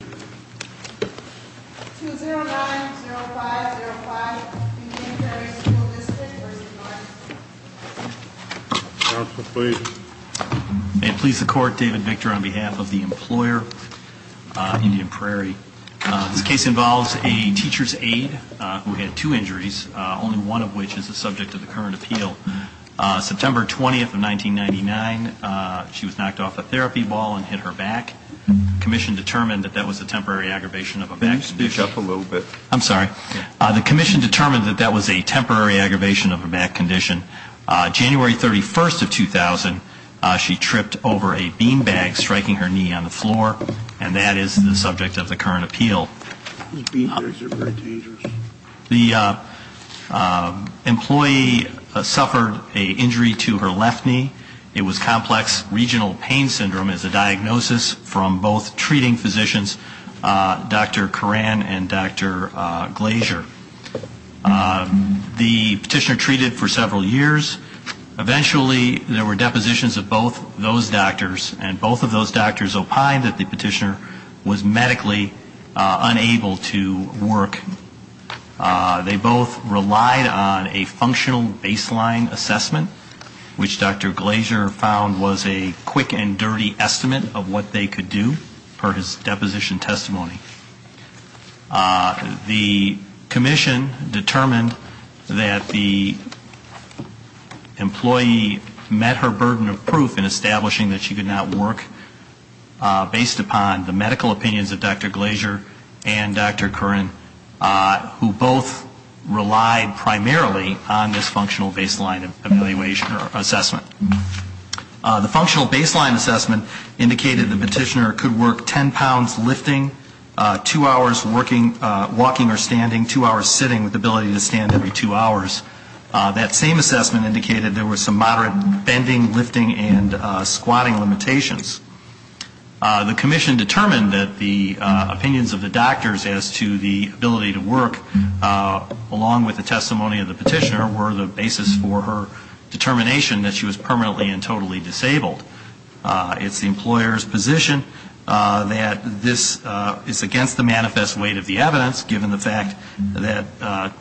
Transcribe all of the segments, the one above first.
2-0-9-0-5-0-5 Indian Prairie School District v. Workers' Compensation Commission May it please the Court, David Victor on behalf of the employer, Indian Prairie. This case involves a teacher's aide who had two injuries, only one of which is the subject of the current appeal. September 20, 1999, she was knocked off a therapy ball and hit her back. The Commission determined that that was a temporary aggravation of a back condition. Can you speak up a little bit? I'm sorry. The Commission determined that that was a temporary aggravation of a back condition. January 31, 2000, she tripped over a bean bag, striking her knee on the floor, and that is the subject of the current appeal. Those bean bags are very dangerous. The employee suffered an injury to her left knee. It was complex regional pain syndrome as a diagnosis from both treating physicians, Dr. Koran and Dr. Glaser. The petitioner treated for several years. Eventually, there were depositions of both those doctors, and both of those doctors opined that the petitioner was medically unable to work. They both relied on a functional baseline assessment, which Dr. Glaser found was a quick and dirty estimate of what they could do, per his deposition testimony. The Commission determined that the employee met her burden of proof in establishing that she could not work, based upon the medical opinions of Dr. Glaser and Dr. Koran. They both relied primarily on this functional baseline assessment. The functional baseline assessment indicated the petitioner could work 10 pounds lifting, two hours walking or standing, two hours sitting with the ability to stand every two hours. That same assessment indicated there were some moderate bending, lifting, and squatting limitations. The Commission determined that the opinions of the doctors as to the ability to work, along with the testimony of the petitioner, were the basis for her determination that she was permanently and totally disabled. It's the employer's position that this is against the manifest weight of the evidence, given the fact that,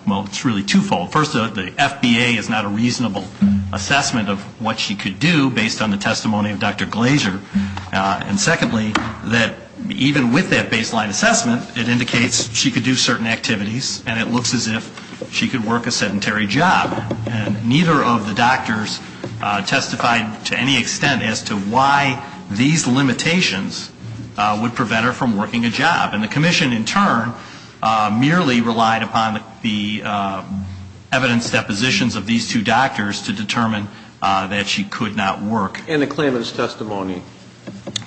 well, it's really twofold. First, the FBA is not a reasonable assessment of what she could do, based on the testimony of Dr. Glaser. And secondly, that even with that baseline assessment, it indicates she could do certain activities, and it looks as if she could work a sedentary job. And neither of the doctors testified to any extent as to why these limitations would prevent her from working a job. And the Commission, in turn, merely relied upon the evidence depositions of these two doctors to determine that she could not work. And the claimant's testimony.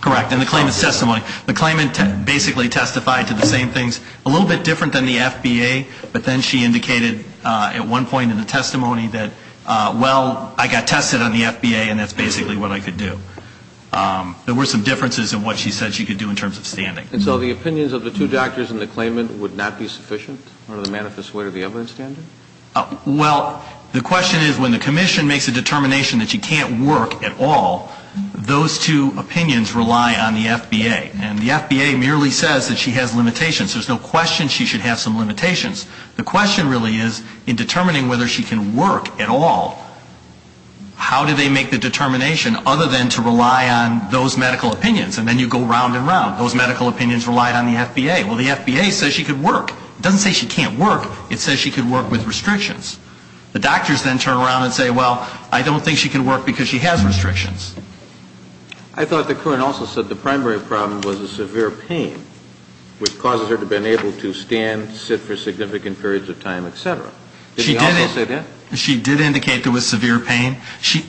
Correct. And the claimant's testimony. The claimant basically testified to the same things, a little bit different than the FBA, but then she indicated at one point in the testimony that, well, I got tested on the FBA, and that's basically what I could do. There were some differences in what she said she could do in terms of standing. And so the opinions of the two doctors and the claimant would not be sufficient under the manifest weight of the evidence standard? Well, the question is, when the Commission makes a determination that she can't work at all, those two opinions rely on the FBA. And the FBA merely says that she has limitations. There's no question she should have some limitations. The question really is, in determining whether she can work at all, how do they make the determination other than to rely on those medical opinions? And then you go round and round. Those medical opinions relied on the FBA. Well, the FBA says she could work. It doesn't say she can't work. It says she could work with restrictions. The doctors then turn around and say, well, I don't think she can work because she has restrictions. I thought that Curran also said the primary problem was the severe pain, which causes her to have been able to stand, sit for significant periods of time, et cetera. Did she also say that? She did indicate there was severe pain.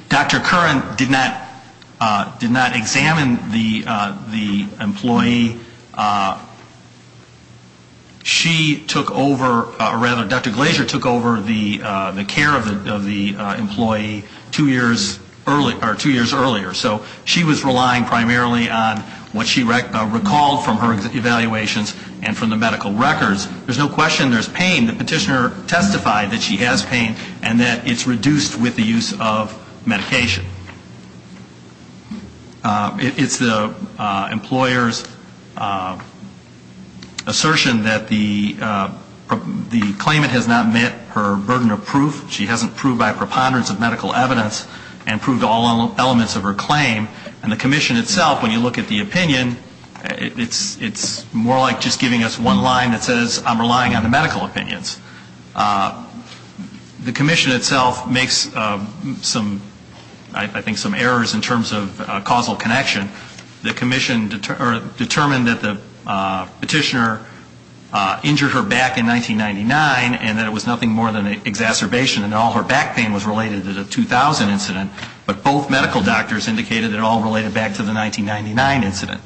Dr. Curran did not examine the employee. She took over, or rather, Dr. Glaser took over the care of the employee two years earlier. So she was relying primarily on what she recalled from her evaluations and from the medical records. There's no question there's pain. The petitioner testified that she has pain and that it's reduced with the use of medication. It's the employer's assertion that the claimant has not met her burden of proof. She hasn't proved by preponderance of medical evidence and proved all elements of her claim. And the commission itself, when you look at the opinion, it's more like just giving us one line that says I'm relying on the medical opinions. The commission itself makes some, I think, some errors in terms of causal connection. The commission determined that the petitioner injured her back in 1999 and that it was nothing more than an exacerbation and all her back pain was related to the 2000 incident. But both medical doctors indicated it all related back to the 1999 incident.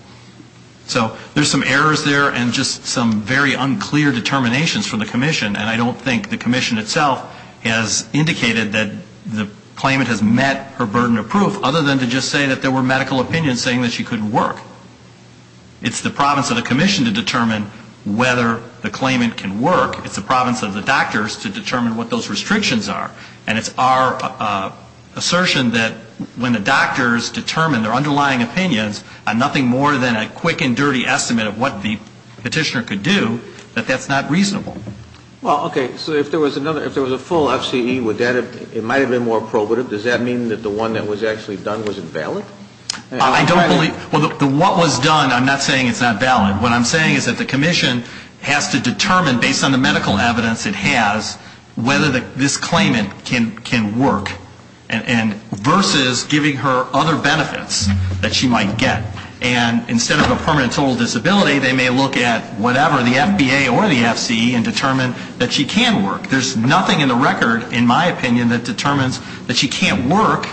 So there's some errors there and just some very unclear determinations from the commission. And I don't think the commission itself has indicated that the claimant has met her burden of proof, other than to just say that there were medical opinions saying that she couldn't work. It's the province of the commission to determine whether the claimant can work. It's the province of the doctors to determine what those restrictions are. And it's our assertion that when the doctors determine their underlying opinions on nothing more than a quick and dirty estimate of what the petitioner could do, that that's not reasonable. Well, okay, so if there was another, if there was a full FCE, would that have, it might have been more probative. Does that mean that the one that was actually done was invalid? I don't believe, well, the what was done, I'm not saying it's not valid. What I'm saying is that the commission has to determine, based on the medical evidence it has, whether this claimant can work. And versus giving her other benefits that she might get. And instead of a permanent total disability, they may look at whatever, the FBA or the FCE, and determine that she can work. There's nothing in the record, in my opinion, that determines that she can't work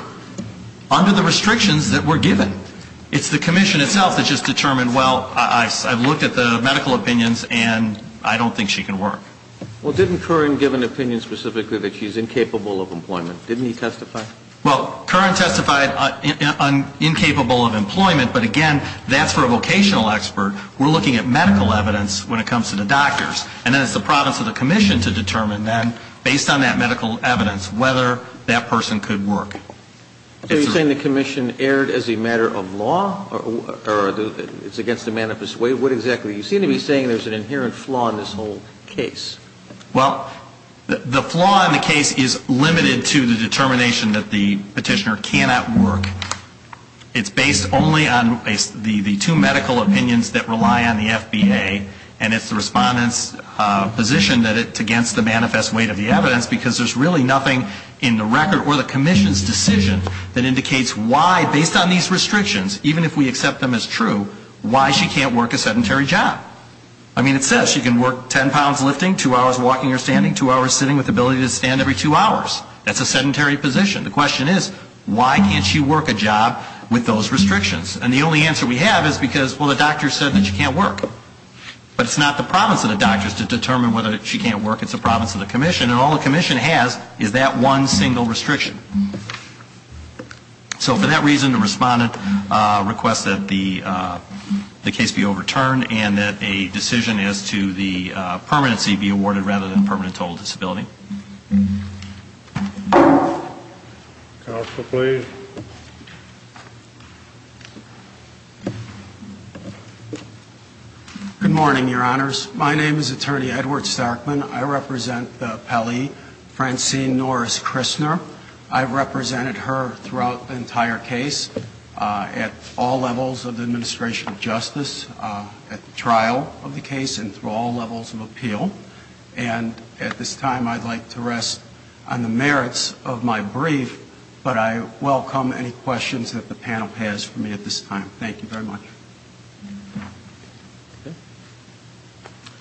under the restrictions that were given. It's the commission itself that just determined, well, I've looked at the medical opinions, and I don't think she can work. Well, didn't Curran give an opinion specifically that she's incapable of employment? Didn't he testify? Well, Curran testified incapable of employment, but again, that's for a vocational expert. We're looking at medical evidence when it comes to the doctors. And then it's the province of the commission to determine then, based on that medical evidence, whether that person could work. Are you saying the commission erred as a matter of law, or it's against the manifest way? What exactly? You seem to be saying there's an inherent flaw in this whole case. Well, the flaw in the case is limited to the determination that the petitioner cannot work. It's based only on the two medical opinions that rely on the FBA, and it's the respondent's position that it's against the manifest weight of the evidence, because there's really nothing in the record or the commission's decision that indicates why, based on these restrictions, even if we accept them as true, why she can't work a sedentary job. I mean, it says she can work 10 pounds lifting, two hours walking or standing, two hours sitting with the ability to stand every two hours. That's a sedentary position. The question is, why can't she work a job with those restrictions? And the only answer we have is because, well, the doctor said that she can't work. But it's not the province of the doctors to determine whether she can't work, it's the province of the commission, and all the commission has is that one single restriction. So for that reason, the respondent requests that the case be overturned, and that a decision as to the permanency be awarded rather than permanent total disability. Counsel, please. Good morning, Your Honors. My name is Attorney Edward Starkman. I represent the appellee, Francine Norris Kristner. I've represented her throughout the entire case at all levels of the administration of justice, at the trial of the case, and through all levels of appeal. And at this time, I'd like to rest on the merits of my brief, but I welcome any questions that the panel has for me at this time. Thank you very much.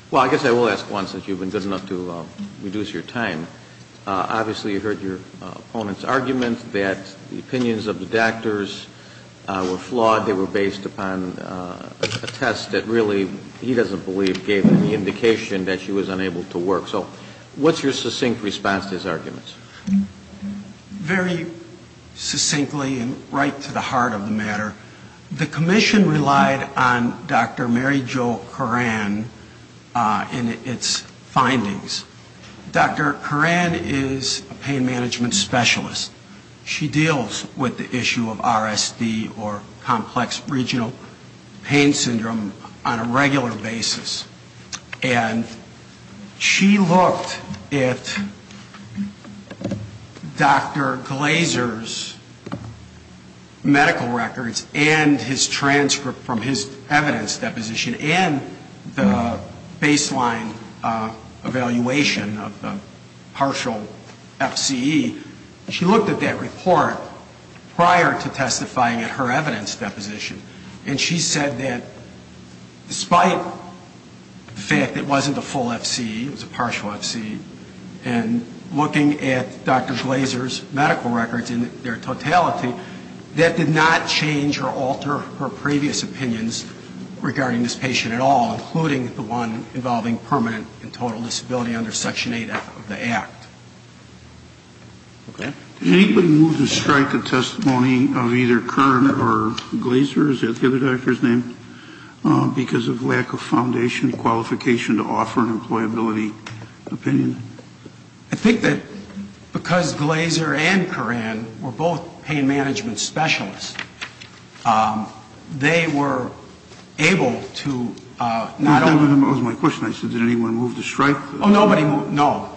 Well, I guess I will ask one, since you've been good enough to reduce your time. Obviously, you heard your opponent's argument that the opinions of the doctors were flawed. They were based upon a test that really, he doesn't believe, gave him the indication that she was unable to work. So what's your succinct response to his arguments? Very succinctly and right to the heart of the matter, the commission relied on Dr. Mary Jo Koran and its findings. Dr. Koran is a pain management specialist. She deals with the issue of RSD or complex regional pain syndrome on a regular basis. And she looked at Dr. Glaser's medical records and his transcript from his evidence deposition, and the baseline evaluation of the partial FCE. She looked at that report prior to testifying at her evidence deposition, and she said that despite the fact that Dr. Glaser's medical records were not a full FCE, it was a partial FCE, and looking at Dr. Glaser's medical records in their totality, that did not change or alter her previous opinions regarding this patient at all, including the one involving permanent and total disability under Section 8 of the Act. Okay. Did anybody move to strike a testimony of either Koran or Glaser? Is that the other doctor's name? Because of lack of foundation, qualification to offer an employability opinion? I think that because Glaser and Koran were both pain management specialists, they were able to not only... That was my question. I said, did anyone move to strike? Oh, nobody moved. No.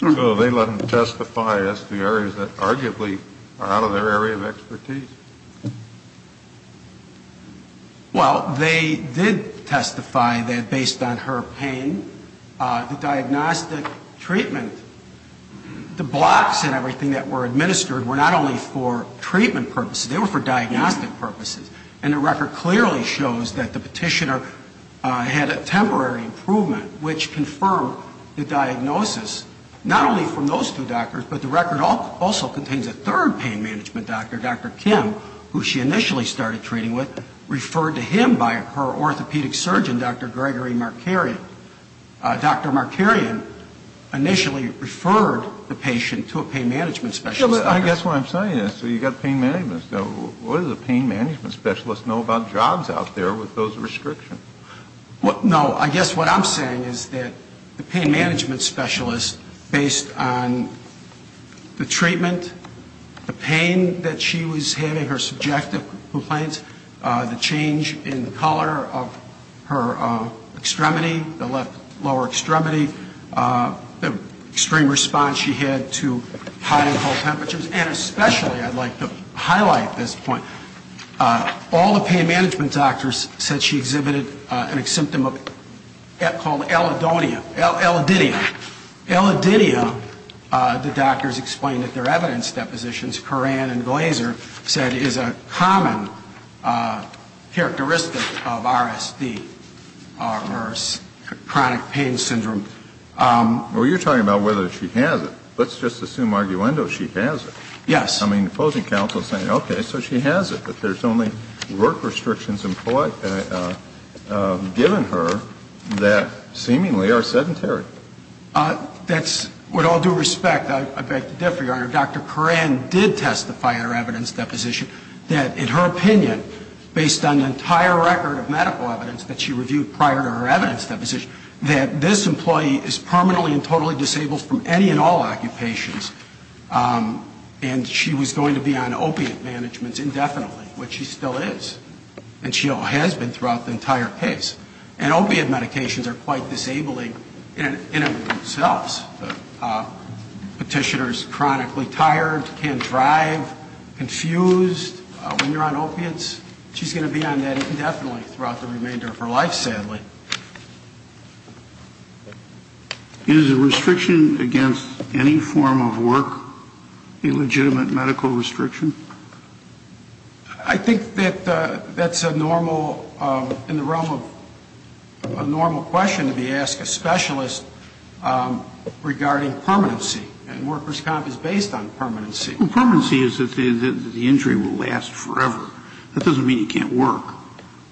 So they let them testify. That's the areas that arguably are out of their area of expertise. Well, they did testify that based on her pain, the diagnostic treatment, the blocks and everything that were administered were not only for treatment purposes, they were for diagnostic purposes. And the record clearly shows that the petitioner had a temporary improvement, which confirmed the diagnosis, not only from those two doctors, but the record also contains a third pain management doctor, Dr. Kim, who she initially started treating with, referred to him by her orthopedic surgeon, Dr. Gregory Markarian. Dr. Markarian initially referred the patient to a pain management specialist. I guess what I'm saying is, you've got pain management specialists. What does a pain management specialist know about jobs out there with those patients? Well, she said that the pain management specialist, based on the treatment, the pain that she was having, her subjective complaints, the change in color of her extremity, the lower extremity, the extreme response she had to high and low temperatures, and especially, I'd like to point out, the pain management specialist, Dr. Markarian, said that it was a common characteristic of RSD, or chronic pain syndrome. Well, you're talking about whether she has it. Let's just assume, arguendo, she has it. Yes. I mean, the opposing counsel is saying, okay, so she has it, but there's only work restrictions given her that seemingly are sedentary. That's with all due respect, I beg to differ, Your Honor, Dr. Koran did testify in her evidence deposition that, in her opinion, based on the entire record of medical evidence that she reviewed prior to her evidence deposition, that this employee is permanently and who's going to be on opiate managements indefinitely, which she still is, and she has been throughout the entire case. And opiate medications are quite disabling in and of themselves. Petitioner's chronically tired, can't drive, confused when you're on opiates. She's going to be on that indefinitely throughout the remainder of her life, sadly. Is a restriction against any form of work a legitimate medical restriction? I think that that's a normal, in the realm of a normal question to be asked a specialist regarding permanency. And workers' comp is based on permanency. Well, permanency is that the injury will last forever. That doesn't mean it can't work.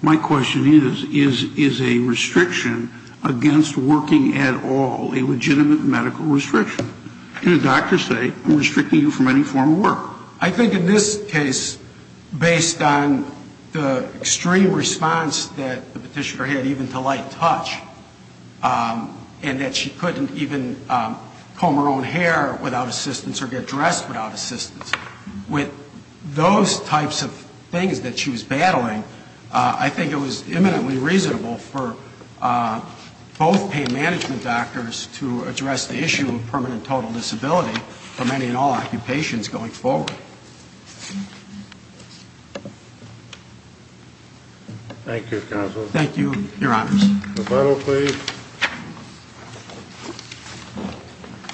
My question is, is a restriction against working at all a legitimate medical restriction? Can a doctor say, I'm restricting you from any form of work? I think in this case, based on the extreme response that the petitioner had even to light touch, and that she couldn't even comb her own hair without assistance or get dressed without assistance, with those types of things that she was battling, I think that the restriction was a reasonable one. I think it was eminently reasonable for both pain management doctors to address the issue of permanent total disability for many and all occupations going forward. Thank you, Counselor. Thank you, Your Honors. The final plea.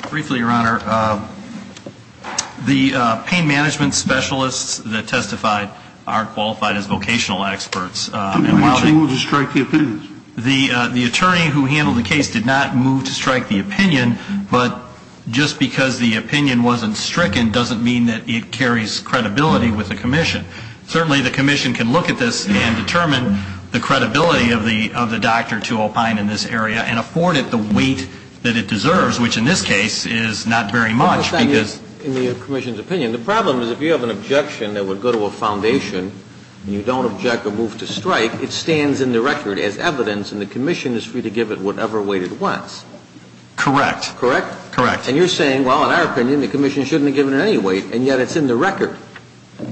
Briefly, Your Honor, the pain management specialists that testified aren't qualified as vocational experts. The attorney who handled the case did not move to strike the opinion. But just because the opinion wasn't stricken doesn't mean that it carries credibility with the commission. Certainly the commission can look at this and determine the credibility of the doctor to opine in this area and afford it the weight that it deserves, which in this case is not very much. In the commission's opinion, the problem is if you have an objection that would go to a foundation and you don't object or move to strike, it stands in the record as evidence and the commission is free to give it whatever weight it wants. Correct. And you're saying, well, in our opinion, the commission shouldn't have given it any weight, and yet it's in the record.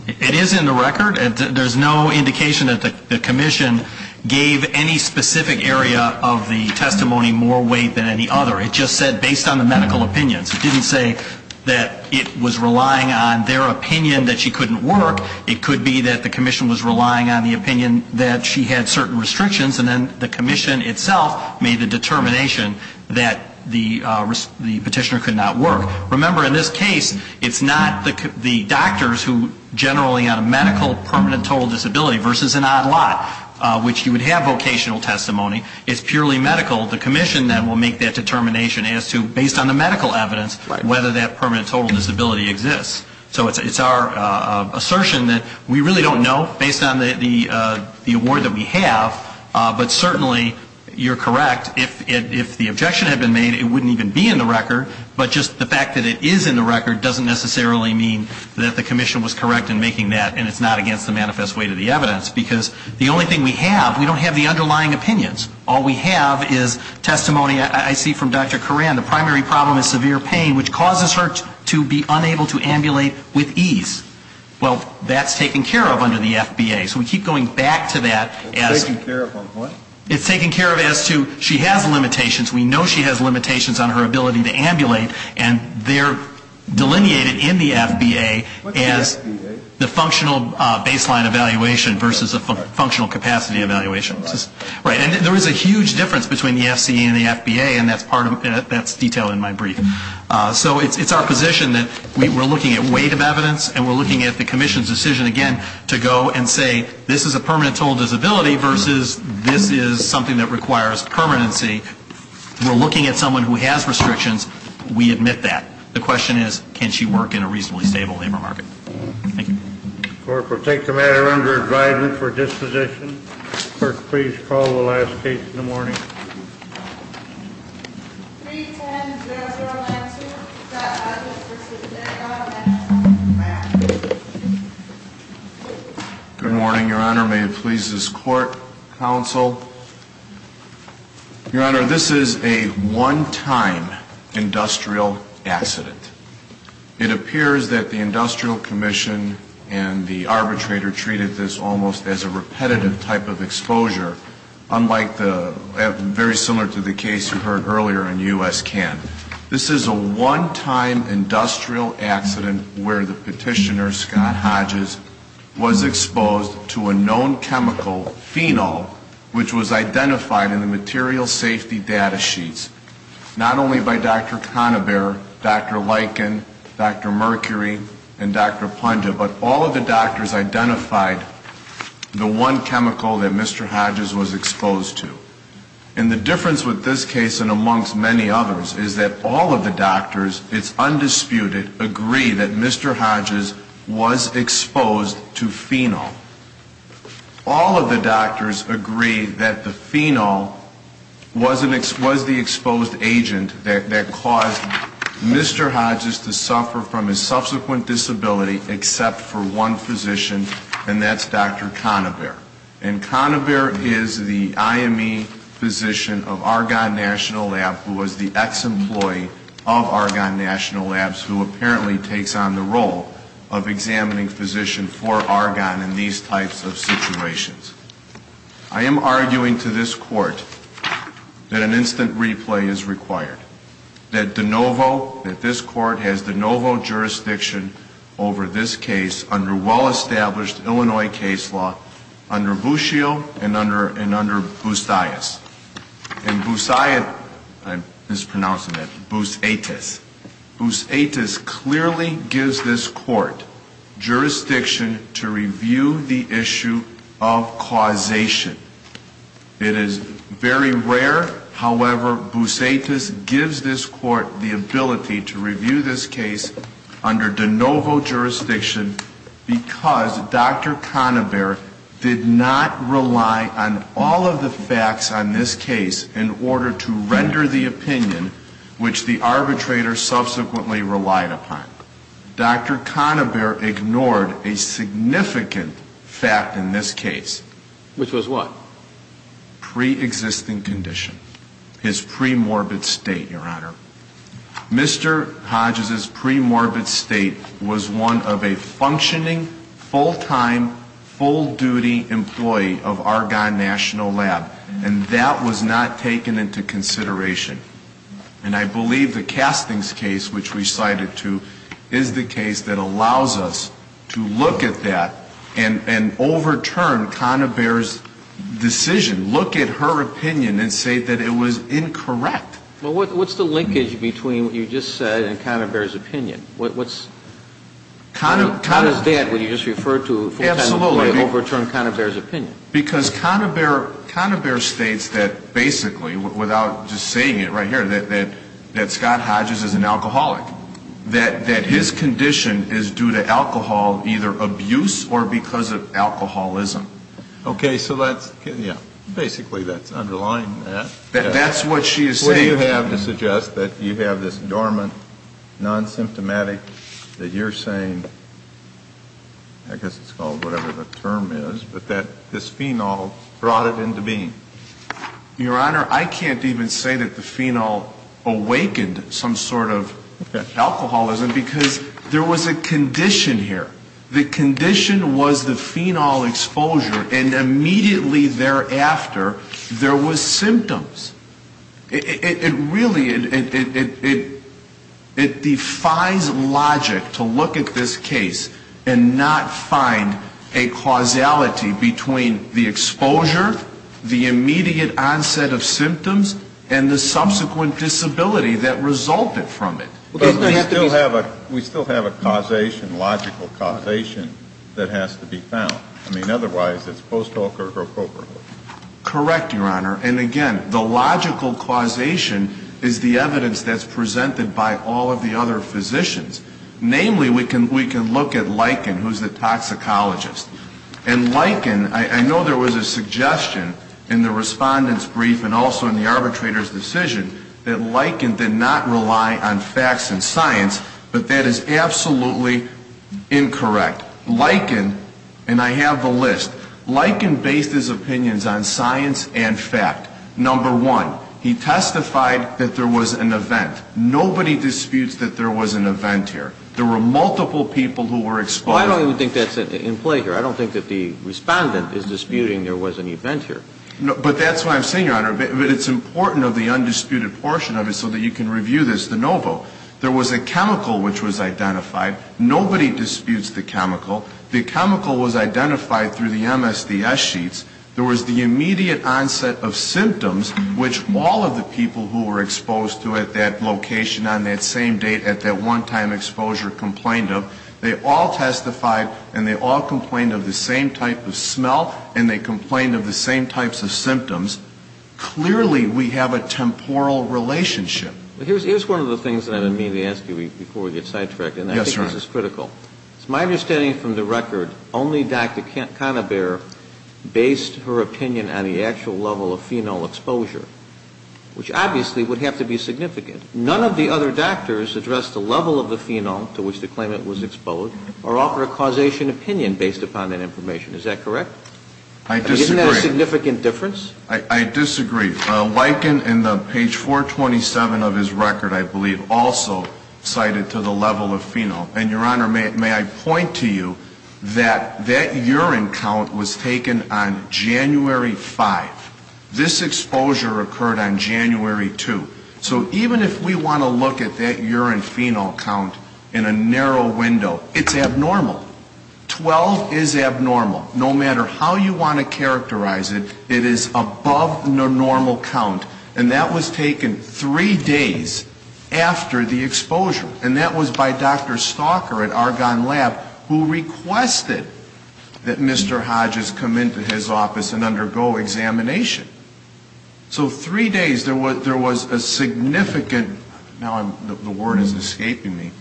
It is in the record. There's no indication that the commission gave any specific area of the testimony more weight than any other. It just said based on the medical opinions. It didn't say that it was relying on their opinion that she couldn't work. It could be that the commission was relying on the opinion that she had certain restrictions and then the commission itself made the decision that the petitioner could not work. Remember, in this case, it's not the doctors who generally have a medical permanent total disability versus an odd lot, which you would have vocational testimony. It's purely medical. The commission then will make that determination as to, based on the medical evidence, whether that permanent total disability exists. So it's our assertion that we really don't know, based on the award that we have, but certainly you're correct. If the objection had been made, it wouldn't even be in the record. But just the fact that it is in the record doesn't necessarily mean that the commission was correct in making that, and it's not against the manifest weight of the evidence, because the only thing we have, we don't have the underlying opinions. All we have is testimony, I see from Dr. Coran, the primary problem is severe pain, which causes her to be unable to ambulate with ease. Well, that's taken care of under the FBA. So we keep going back to that. It's taken care of as to she has limitations. We know she has limitations on her ability to ambulate, and they're delineated in the FBA as the functional baseline evaluation versus a functional capacity evaluation. And there is a huge difference between the FCA and the FBA, and that's detailed in my brief. So it's our position that we're looking at weight of evidence, and we're looking at the commission's decision, again, to go and say, this is a permanent total disability versus this is something that requires permanency. We're looking at someone who has restrictions. We admit that. The question is, can she work in a reasonably stable labor market? Thank you. Court, we'll take the matter under advisement for disposition. Clerk, please call the last case in the morning. Good morning, Your Honor. May it please this Court, counsel. Your Honor, this is a one-time industrial accident. It appears that the Industrial Commission and the arbitrator treated this almost as a repetitive type of exposure, unlike the FBA. Very similar to the case you heard earlier in U.S. CAN. This is a one-time industrial accident where the petitioner, Scott Hodges, was exposed to a known chemical, phenol, which was identified in the material safety data sheets, not only by Dr. Conabare, Dr. Lichen, Dr. Mercury, and Dr. Punja, but all of the doctors identified the one chemical that Mr. Hodges was exposed to. And the difference with this case and amongst many others is that all of the doctors, it's undisputed, agree that Mr. Hodges was exposed to phenol. All of the doctors agree that the phenol was the exposed agent that caused Mr. Hodges to suffer from his subsequent disability, except for one physician, and that's Dr. Conabare. And Dr. Conabare is the IME physician of Argonne National Lab, who was the ex-employee of Argonne National Labs, who apparently takes on the role of examining physician for Argonne in these types of situations. I am arguing to this Court that an instant replay is required, that De Novo, that this Court has De Novo jurisdiction over this case under well-established Illinois case law, under the Illinois case law. Under Bushio and under Boussaites. Boussaites clearly gives this Court jurisdiction to review the issue of causation. It is very rare, however, Boussaites gives this Court the ability to review this case under De Novo jurisdiction because Dr. Conabare did not have the ability to review the issue of causation. Dr. Conabare did not rely on all of the facts on this case in order to render the opinion which the arbitrator subsequently relied upon. Dr. Conabare ignored a significant fact in this case. Which was what? Pre-existing condition. His premorbid state, Your Honor. Mr. Hodges' premorbid state was one of a functioning, full-time, full-duty employee of Argonne National Lab. And that was not taken into consideration. And I believe the Castings case, which we cited to, is the case that allows us to look at that and overturn Conabare's decision, look at her opinion and say that it was incorrect. Well, what's the linkage between what you just said and Conabare's opinion? How does that, what you just referred to, overturn Conabare's opinion? Because Conabare states that basically, without just saying it right here, that Scott Hodges is an alcoholic. That his condition is due to alcohol, either abuse or because of alcoholism. Okay, so that's, yeah, basically that's underlying that. That's what she is saying. What do you have to suggest that you have this dormant, non-symptomatic, that you're saying, I guess it's called whatever the term is, but that this phenol brought it into being? Your Honor, I can't even say that the phenol awakened some sort of alcoholism because there was a condition here. The condition was the phenol exposure, and immediately thereafter, there was symptoms. It really, it defies logic to look at this case and not find a causality between the exposure, the immediate onset of symptoms, and the subsequent disability that resulted from it. But we still have a causation, logical causation, that has to be found. I mean, otherwise, it's post hoc or pro quo. Correct, Your Honor, and again, the logical causation is the evidence that's presented by all of the other physicians. Namely, we can look at Lycan, who's the toxicologist. And Lycan, I know there was a suggestion in the Respondent's brief and also in the arbitrator's decision that Lycan did not rely on facts of the case. He relied on facts and science, but that is absolutely incorrect. Lycan, and I have the list, Lycan based his opinions on science and fact. Number one, he testified that there was an event. Nobody disputes that there was an event here. There were multiple people who were exposed. Well, I don't even think that's in play here. I don't think that the Respondent is disputing there was an event here. But that's why I'm saying, Your Honor, that it's important of the undisputed portion of it so that you can review this de novo. There was a chemical which was identified. Nobody disputes the chemical. The chemical was identified through the MSDS sheets. There was the immediate onset of symptoms, which all of the people who were exposed to it, that location on that same date at that one-time exposure complained of. They all testified and they all complained of the same type of smell and they complained of the same types of symptoms. Clearly, we have a temporal relationship. Well, here's one of the things that I mean to ask you before we get sidetracked, and I think this is critical. It's my understanding from the record, only Dr. Canabare based her opinion on the actual level of phenol exposure, which obviously would have to be significant. None of the other doctors addressed the level of the phenol to which the claimant was exposed or offered a causation opinion based upon that information. Is that correct? I disagree. Isn't that a significant difference? I disagree. Wyken in page 427 of his record, I believe, also cited to the level of phenol. And, Your Honor, may I point to you that that urine count was taken on January 5. This exposure occurred on January 2. So even if we want to look at that urine phenol count in a narrow window, it's abnormal. Twelve is abnormal. No matter how you want to characterize it, it is above the normal count. And that was taken three days after the exposure. And that was by Dr. Stalker at Argonne Lab, who requested that Mr. Hodges come into his office and undergo examination. So three days there was a significant, now the word is escaping me,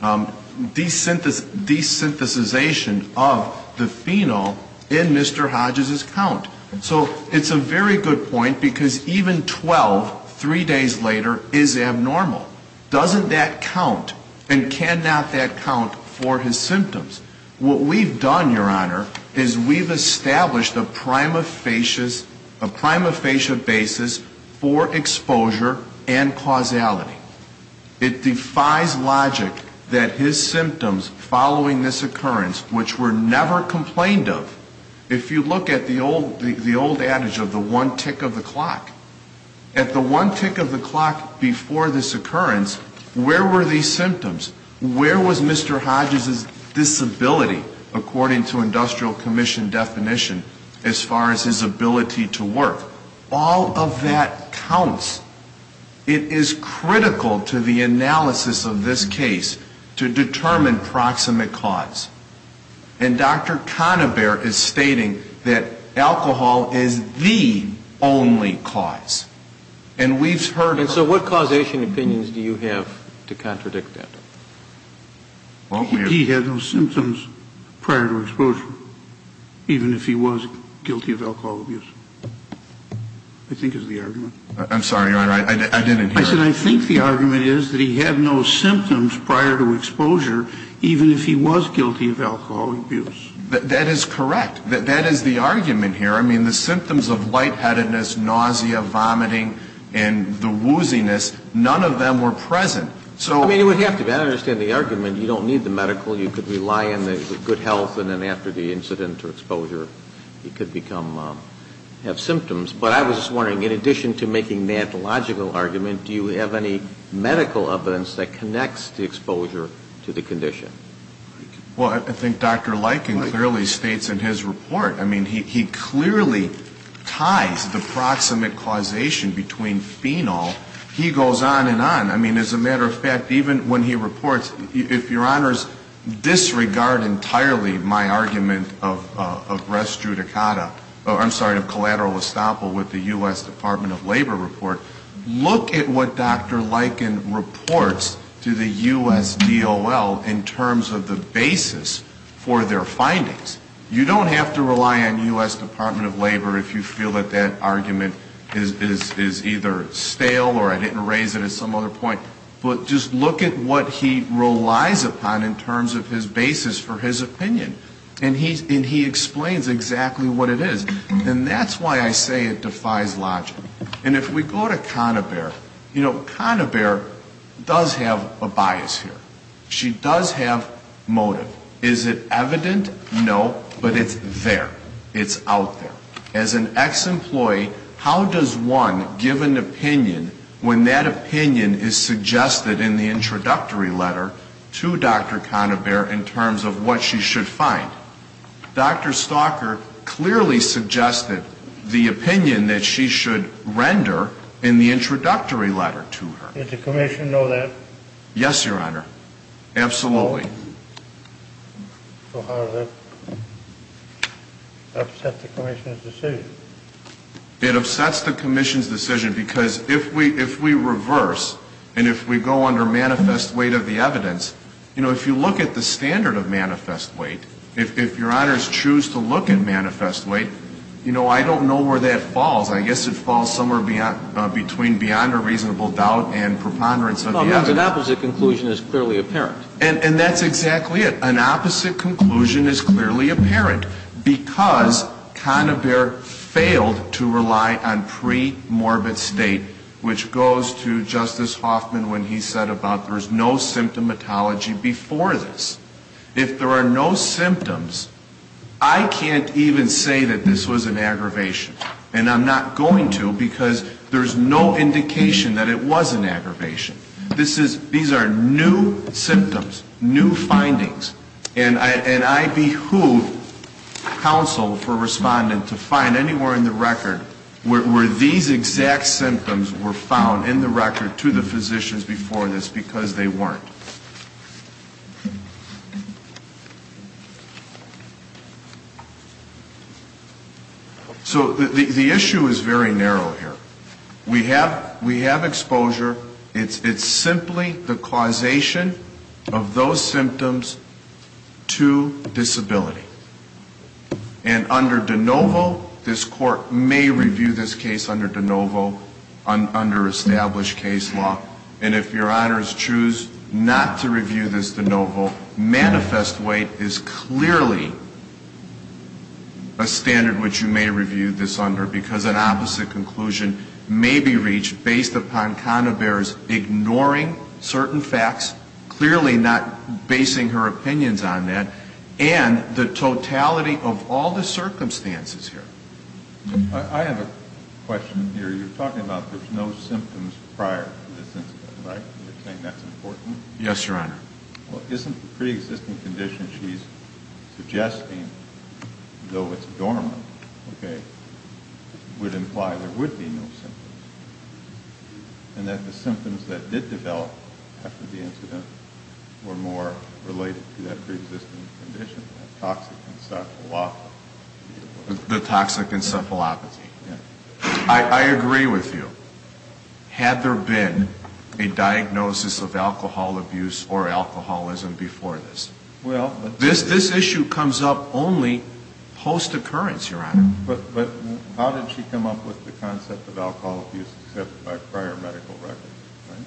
desynthesization of the phenol in Mr. Hodges' count. So it's a very good point, because even 12, three days later, is abnormal. Doesn't that count? And cannot that count for his symptoms? What we've done, Your Honor, is we've established a prima facie basis for exposure and causality. It defies logic that his symptoms following this occurrence, which were never complained of, if you look at the old adage of the one tick of the clock. At the one tick of the clock before this occurrence, where were these symptoms? Where was Mr. Hodges' disability, according to industrial commission definition, as far as his ability to work? All of that counts. It is critical to the analysis of this case to determine proximate cause. And Dr. Conabare is stating that alcohol is the only cause. And so what causation opinions do you have to contradict that? He had no symptoms prior to exposure, even if he was guilty of alcohol abuse, I think is the argument. I'm sorry, Your Honor, I didn't hear. I said I think the argument is that he had no symptoms prior to exposure, even if he was guilty of alcohol abuse. That is correct. That is the argument here. I mean, the symptoms of lightheadedness, nausea, vomiting, and the wooziness, none of them were present. I mean, it would have to be. I understand the argument. You don't need the medical. You could rely on the good health, and then after the incident or exposure, he could become, have symptoms. But I was just wondering, in addition to making that logical argument, do you have any medical evidence that connects the exposure to the condition? Well, I think Dr. Lykin clearly states in his report. I mean, he clearly ties the proximate causation between phenol. He goes on and on. I mean, as a matter of fact, even when he reports, if Your Honors disregard entirely my argument of res judicata, I'm sorry, of collateral estoppel with the U.S. Department of Labor report, look at what Dr. Lykin reports to the U.S. DOL in terms of the basis for their findings. You don't have to rely on U.S. Department of Labor if you feel that that argument is either stale, or I didn't raise it at some other point. But just look at what he relies upon in terms of his basis for his opinion. And he explains exactly what it is. And that's why I say it defies logic. And if we go to Conabare, you know, Conabare does have a bias here. She does have motive. Is it evident? No. But it's there. It's out there. As an ex-employee, how does one give an opinion when that opinion is suggested in the introductory letter to Dr. Conabare in terms of what she should find? Dr. Stalker clearly suggested the opinion that she should render in the introductory letter to her. Did the commission know that? Yes, Your Honor. Absolutely. So how does that upset the commission's decision? It upsets the commission's decision because if we reverse and if we go under manifest weight of the evidence, you know, if you look at the standard of manifest weight, if Your Honors choose to look at manifest weight, you know, I don't know where that falls. I guess it falls somewhere between beyond a reasonable doubt and preponderance of the evidence. An opposite conclusion is clearly apparent. And that's exactly it. An opposite conclusion is clearly apparent because Conabare failed to rely on premorbid state, which goes to Justice Hoffman when he said about there's no symptomatology before this. If there are no symptoms, I can't even say that this was an aggravation. And I'm not going to because there's no indication that it was an aggravation. These are new symptoms, new findings. And I behoove counsel for respondent to find anywhere in the record where these exact symptoms were found in the record to the physicians before this because they weren't. So the issue is very narrow here. We have exposure. It's simply the causation of those symptoms, to disability. And under de novo, this Court may review this case under de novo, under established case law. And if Your Honors choose not to review this de novo, manifest weight is clearly a standard which you may review this under because an opposite conclusion may be reached based upon your opinions on that and the totality of all the circumstances here. I have a question here. You're talking about there's no symptoms prior to this incident, right? You're saying that's important? Yes, Your Honor. Well, isn't the preexisting condition she's suggesting, though it's dormant, would imply there would be no symptoms and that the preexisting condition, the toxic encephalopathy. The toxic encephalopathy. I agree with you. Had there been a diagnosis of alcohol abuse or alcoholism before this. This issue comes up only post-occurrence, Your Honor. But how did she come up with the concept of alcohol abuse except by prior medical records, right?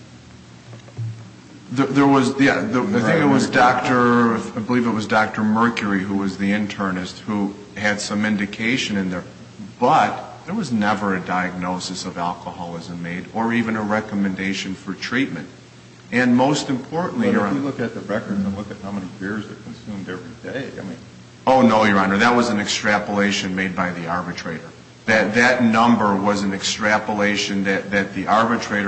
There was, yeah, I think it was Dr. I believe it was Dr. Mercury who was the internist who had some indication in there. But there was never a diagnosis of alcoholism made or even a recommendation for treatment. And most importantly, Your Honor. But if you look at the records and look at how many beers are consumed every day, I mean. Oh, no, Your Honor. That was an extrapolation made by the arbitrator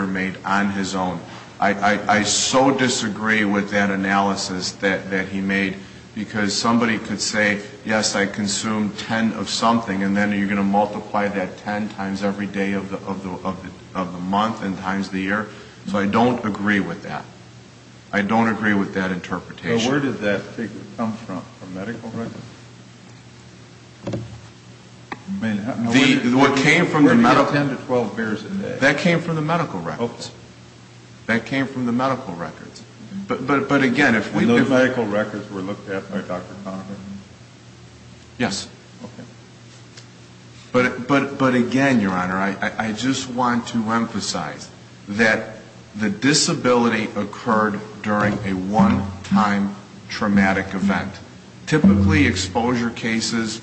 made on his own. I so disagree with that analysis that he made. Because somebody could say, yes, I consume ten of something and then you're going to multiply that ten times every day of the month and times the year. So I don't agree with that. I don't agree with that interpretation. So where did that come from? From medical records? What came from the medical records? Ten to twelve beers a day. That came from the medical records. That came from the medical records. But again, if we. And those medical records were looked at by Dr. Conover? Yes. Okay. But again, Your Honor, I just want to emphasize that the disability occurred during a one-time traumatic event. Typically exposure cases,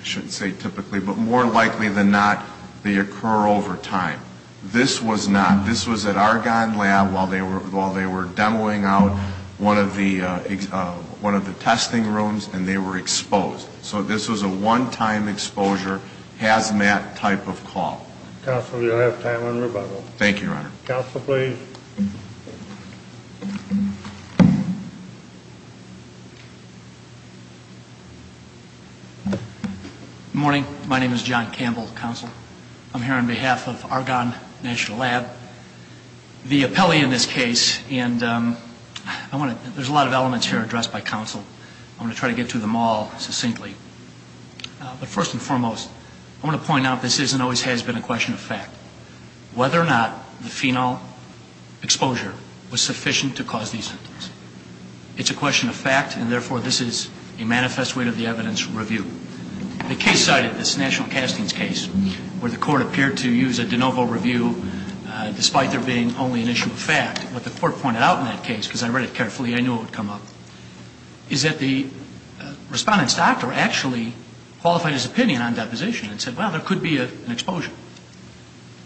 I shouldn't say typically, but more likely than not, they occur over time. This was not. This was at Argonne Lab while they were demoing out one of the testing rooms and they were exposed. So this was a one-time exposure hazmat type of call. Counsel, you'll have time on rebuttal. Thank you, Your Honor. Counsel, please. Good morning. My name is John Campbell, Counsel. I'm here on behalf of Argonne National Lab. The appellee in this case and I want to. There's a lot of elements here addressed by counsel. I'm going to try to get to them all succinctly. But first and foremost, I want to point out this is and always has been a question of fact. Whether or not the phenol exposure was sufficient to cause these symptoms. It's a question of fact and therefore this is a manifest way to the evidence review. The case cited, this national castings case, where the court appeared to use a de novo review despite there being only an issue of fact. What the court pointed out in that case, because I read it and I actually qualified his opinion on deposition and said, well, there could be an exposure.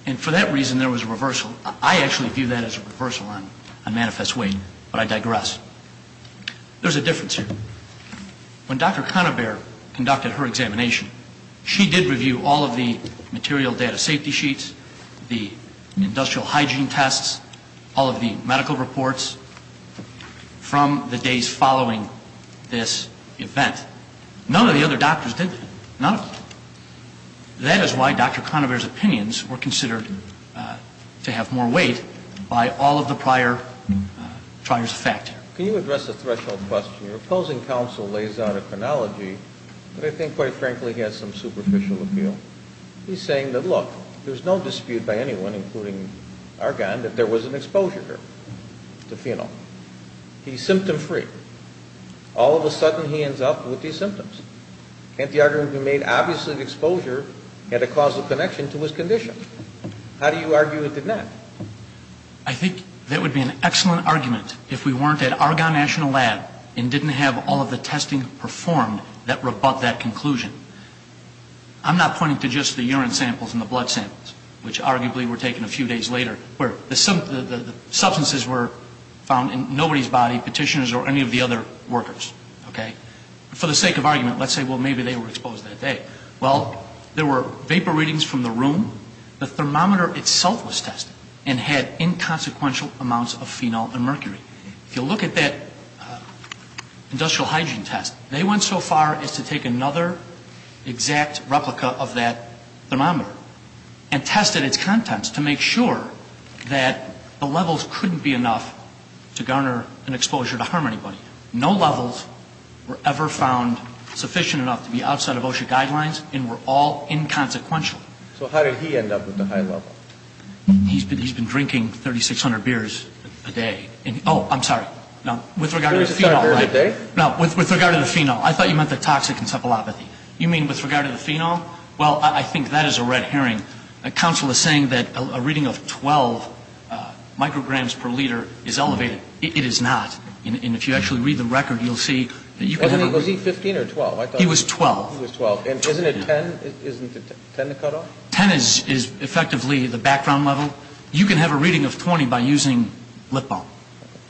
And for that reason there was a reversal. I actually view that as a reversal on a manifest way. But I digress. There's a difference here. When Dr. Conabare conducted her examination, she did review all of the material data safety sheets, the industrial hygiene tests, all of the medical reports from the days following this event. None of the other doctors did. None of them. That is why Dr. Conabare's opinions were considered to have more weight by all of the prior trials of fact. Can you address the threshold question? Your opposing counsel lays out a chronology that I think, quite frankly, has some superficial appeal. He's saying that, look, there's no dispute by anyone, including Argonne, that there was an exposure to phenol. He's symptom free. All of a sudden he ends up with these symptoms. Can't the argument be made obviously the exposure had a causal connection to his condition? How do you argue it did not? I think that would be an excellent argument if we weren't at Argonne National Lab and didn't have all of the testing performed that were above that conclusion. I'm not pointing to just the urine samples and the blood samples, which arguably were taken a few days later, where the substances were found in nobody's body, petitioners or any of the other workers. For the sake of argument, let's say, well, maybe they were exposed that day. Well, there were vapor readings from the room. The thermometer itself was tested and had inconsequential amounts of phenol and mercury. If you look at that industrial hygiene test, they went so far as to take another exact replica of that thermometer and tested its contents to make sure that the levels couldn't be enough to garner an exposure to harm anybody. No levels were ever found sufficient enough to be outside of OSHA guidelines and were all inconsequential. So how did he end up with the high level? He's been drinking 3,600 beers a day. Oh, I'm sorry. 3,600 beers a day? With regard to the phenol. I thought you meant the toxic encephalopathy. You mean with regard to the phenol? Well, I think that is a red herring. Counsel is saying that a reading of 12 micrograms per liter is elevated. It is not. And if you actually read the record, you'll see. Was he 15 or 12? He was 12. He was 12. And isn't it 10? Isn't it 10 to cut off? 10 is effectively the background level. You can have a reading of 20 by using lip balm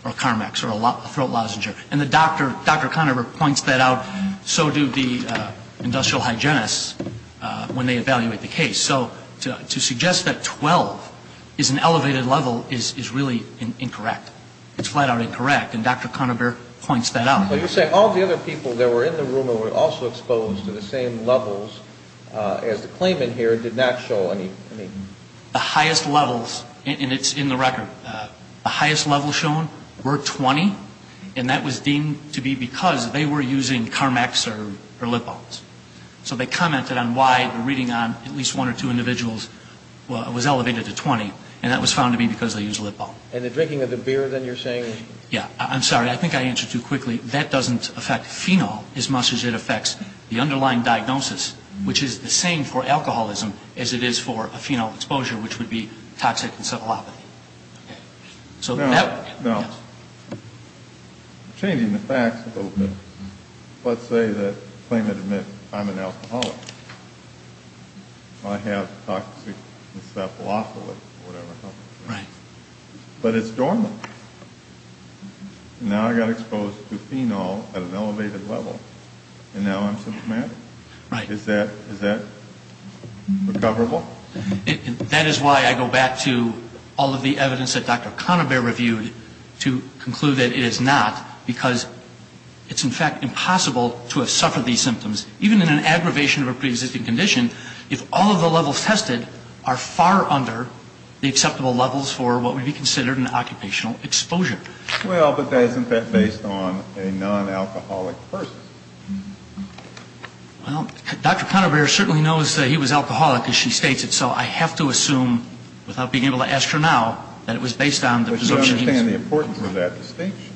or Carmex or a throat lozenger. And Dr. Conover points that out. So do the industrial hygienists when they evaluate the case. So to suggest that 12 is an elevated level is really incorrect. It's flat out incorrect. And Dr. Conover points that out. You say all the other people that were in the room were also exposed to the same levels as the claimant here did not show any. The highest levels, and it's in the record, the highest levels shown were 20. And that was deemed to be because they were using Carmex or lip balms. So they commented on why the reading on at least one or two individuals was elevated to 20. And that was found to be because they used lip balm. And the drinking of the beer then you're saying? Yeah, I'm sorry. I think I answered too quickly. That doesn't affect phenol as much as it affects the underlying diagnosis, which is the same for alcoholism as it is for a phenol exposure, which would be toxic encephalopathy. Okay. Now, changing the facts a little bit. Let's say that the claimant admits I'm an alcoholic. I have toxic encephalopathy or whatever. Right. But it's normal. Now I got exposed to phenol at an elevated level, and now I'm symptomatic? Right. Is that recoverable? That is why I go back to all of the evidence that Dr. Conover reviewed to conclude that it is not, because it's, in fact, impossible to have suffered these symptoms. Even in an aggravation of a preexisting condition, if all of the levels tested are far under the acceptable levels for what would be considered an occupational exposure. Well, but that isn't based on a non-alcoholic person. Well, Dr. Conover certainly knows that he was alcoholic, as she states it, so I have to assume, without being able to ask her now, that it was based on the presumption he was. But you understand the importance of that distinction.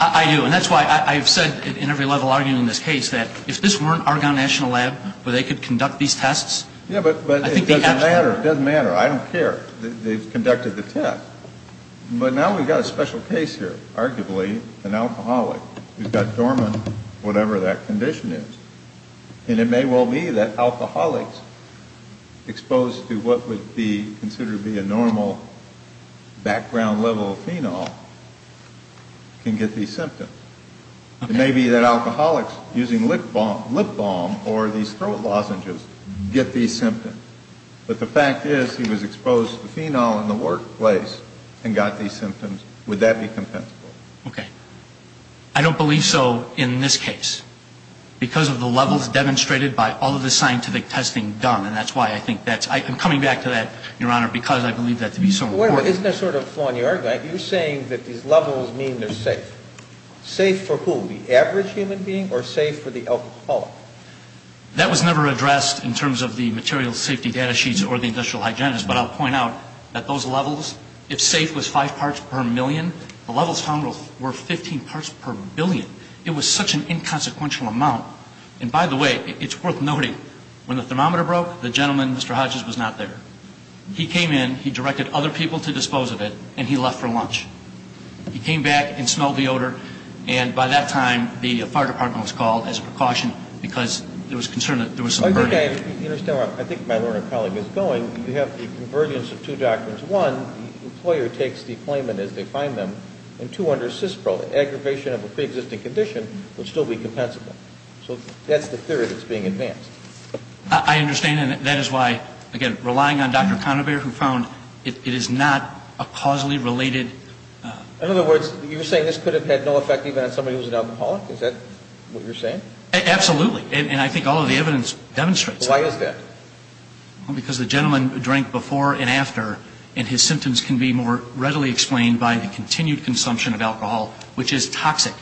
I do. And that's why I've said in every level arguing this case that if this weren't Argonne National Lab where they could conduct these tests, I think they have to. Yeah, but it doesn't matter. It doesn't matter. I don't care. They've conducted the test. But now we've got a special case here, arguably, an alcoholic who's got dormant, whatever that condition is. And it may well be that alcoholics exposed to what would be considered to be a normal background level of phenol can get these symptoms. It may be that alcoholics using lip balm or these throat lozenges get these symptoms. But the fact is he was exposed to phenol in the workplace and got these symptoms. Would that be compensable? Okay. I don't believe so in this case because of the levels demonstrated by all of the scientific testing done. And that's why I think that's – I'm coming back to that, Your Honor, because I believe that to be so important. Wait a minute. Isn't there sort of flaw in the argument? You're saying that these levels mean they're safe. Safe for who? The average human being or safe for the alcoholic? That was never addressed in terms of the material safety data sheets or the industrial hygienist. But I'll point out that those levels, if safe was five parts per million, the levels found were 15 parts per billion. It was such an inconsequential amount. And by the way, it's worth noting, when the thermometer broke, the gentleman, Mr. Hodges, was not there. He came in, he directed other people to dispose of it, and he left for lunch. He came back and smelled the odor. And by that time, the fire department was called as a precaution because there was concern that there was some burden. Okay. I think my learned colleague is going. You have the convergence of two doctrines. One, the employer takes the claimant as they find them. And two, under CISPRO, the aggravation of a preexisting condition would still be compensable. So that's the theory that's being advanced. I understand, and that is why, again, relying on Dr. Conover, who found it is not a causally related. In other words, you're saying this could have had no effect even on somebody who was an alcoholic? Is that what you're saying? Absolutely. And I think all of the evidence demonstrates that. Why is that? Because the gentleman drank before and after, and his symptoms can be more readily explained by the continued consumption of alcohol, which is toxic,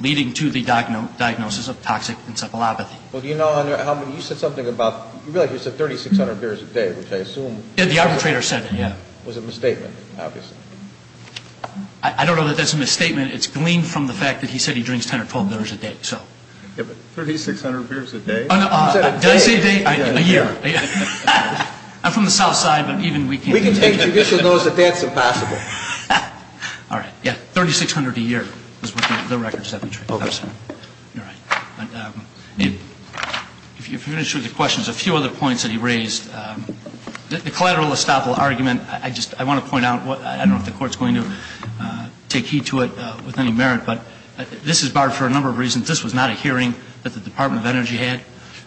leading to the diagnosis of toxic encephalopathy. Well, do you know how many – you said something about – you said 3,600 beers a day, which I assume – Yeah, the arbitrator said it. Yeah. It was a misstatement, obviously. I don't know that that's a misstatement. It's gleaned from the fact that he said he drinks 10 or 12 beers a day, so. 3,600 beers a day? Did I say a day? A year. I'm from the South Side, but even we can't – We can take judicial notice that that's impossible. All right. Yeah, 3,600 a year is what the record says. If you're going to shoot the questions, a few other points that he raised. The collateral estoppel argument, I just – I want to point out – I don't know if the Court's going to take heed to it with any merit, but this is barred for a number of reasons. This was not a hearing that the Department of Energy had.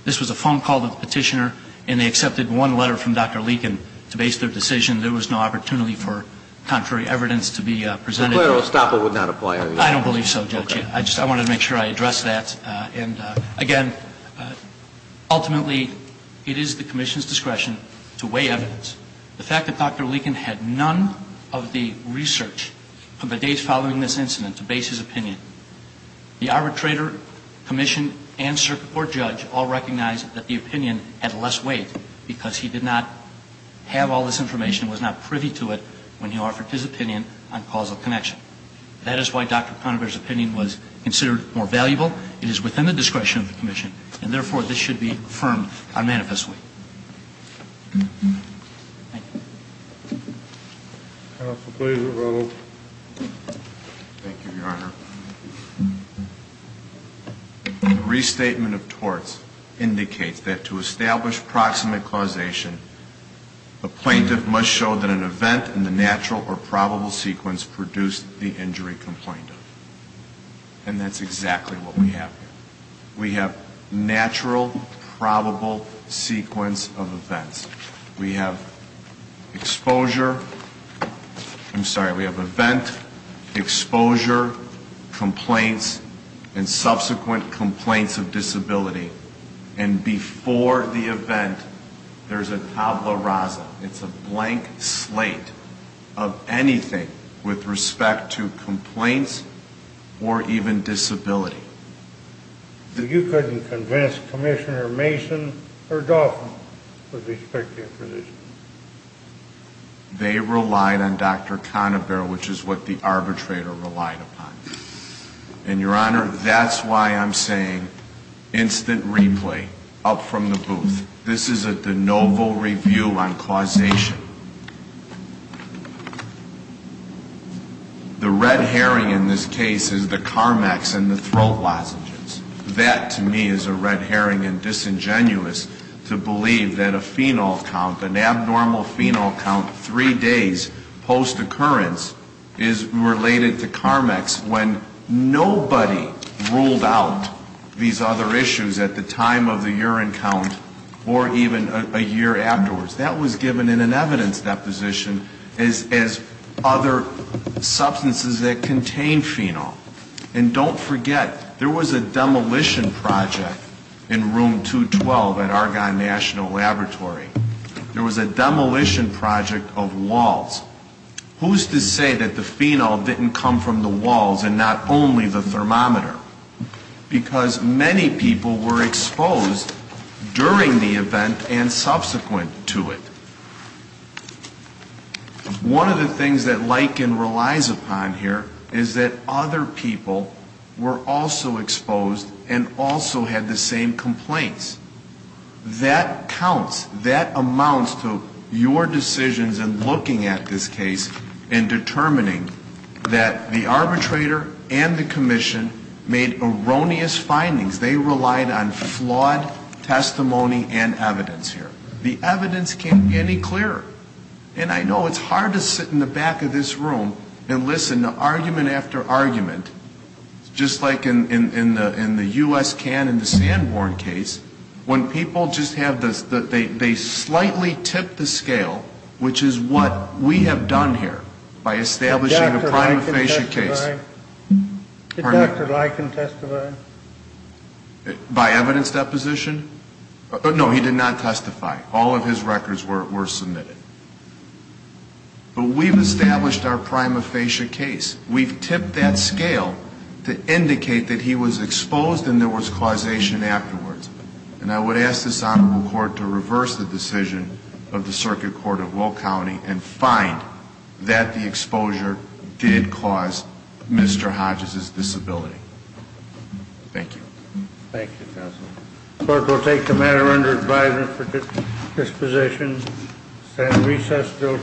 This was a phone call to the petitioner, and they accepted one letter from Dr. Leakin to base their decision. There was no opportunity for contrary evidence to be presented. The collateral estoppel would not apply, are you saying? I don't believe so, Judge. I want to make sure I address that. And, again, ultimately, it is the Commission's discretion to weigh evidence. The fact that Dr. Leakin had none of the research of the days following this incident to base his opinion, the arbitrator, Commission, and circuit court judge all recognized that the opinion had less weight because he did not have all this information, was not privy to it when he offered his opinion on causal connection. That is why Dr. Conover's opinion was considered more valuable. It is within the discretion of the Commission, and, therefore, this should be affirmed unmanifestly. Thank you. Counsel, please. Thank you, Your Honor. The restatement of torts indicates that to establish proximate causation, a plaintiff must show that an event in the natural or probable sequence produced the injury complained of. And that's exactly what we have here. We have natural, probable sequence of events. We have exposure. I'm sorry, we have event, exposure, complaints, and subsequent complaints of disability. And before the event, there's a tabula rasa. It's a blank slate of anything with respect to complaints or even disability. You couldn't convince Commissioner Mason or Dauphin with respect to your position? They relied on Dr. Conover, which is what the arbitrator relied upon. And, Your Honor, that's why I'm saying instant replay, up from the booth. This is a de novo review on causation. The red herring in this case is the CARMEX and the throat lozenges. That, to me, is a red herring and disingenuous to believe that a fenal count, an abnormal fenal count three days post-occurrence is related to CARMEX when nobody ruled out these other issues at the time of the urine count or even a year afterwards. That was given in an evidence deposition as other substances that contain fenol. And don't forget, there was a demolition project in Room 212 at Argonne National Laboratory. There was a demolition project of walls. Who's to say that the fenol didn't come from the walls and not only the thermometer? Because many people were exposed during the event and subsequent to it. One of the things that Liken relies upon here is that other people were also exposed and also had the same complaints. That counts, that amounts to your decisions in looking at this case and determining that the arbitrator and the commission made erroneous findings. They relied on flawed testimony and evidence here. The evidence can't be any clearer. And I know it's hard to sit in the back of this room and listen to argument after argument, just like in the U.S. can in the Sanborn case, when people just have this, they slightly tip the scale, which is what we have done here by establishing a prima facie case. Did Dr. Liken testify? By evidence deposition? No, he did not testify. All of his records were submitted. But we've established our prima facie case. We've tipped that scale to indicate that he was exposed and there was causation afterwards. And I would ask this Honorable Court to reverse the decision of the Circuit Court of Will County and find that the exposure did cause Mr. Hodges' disability. Thank you.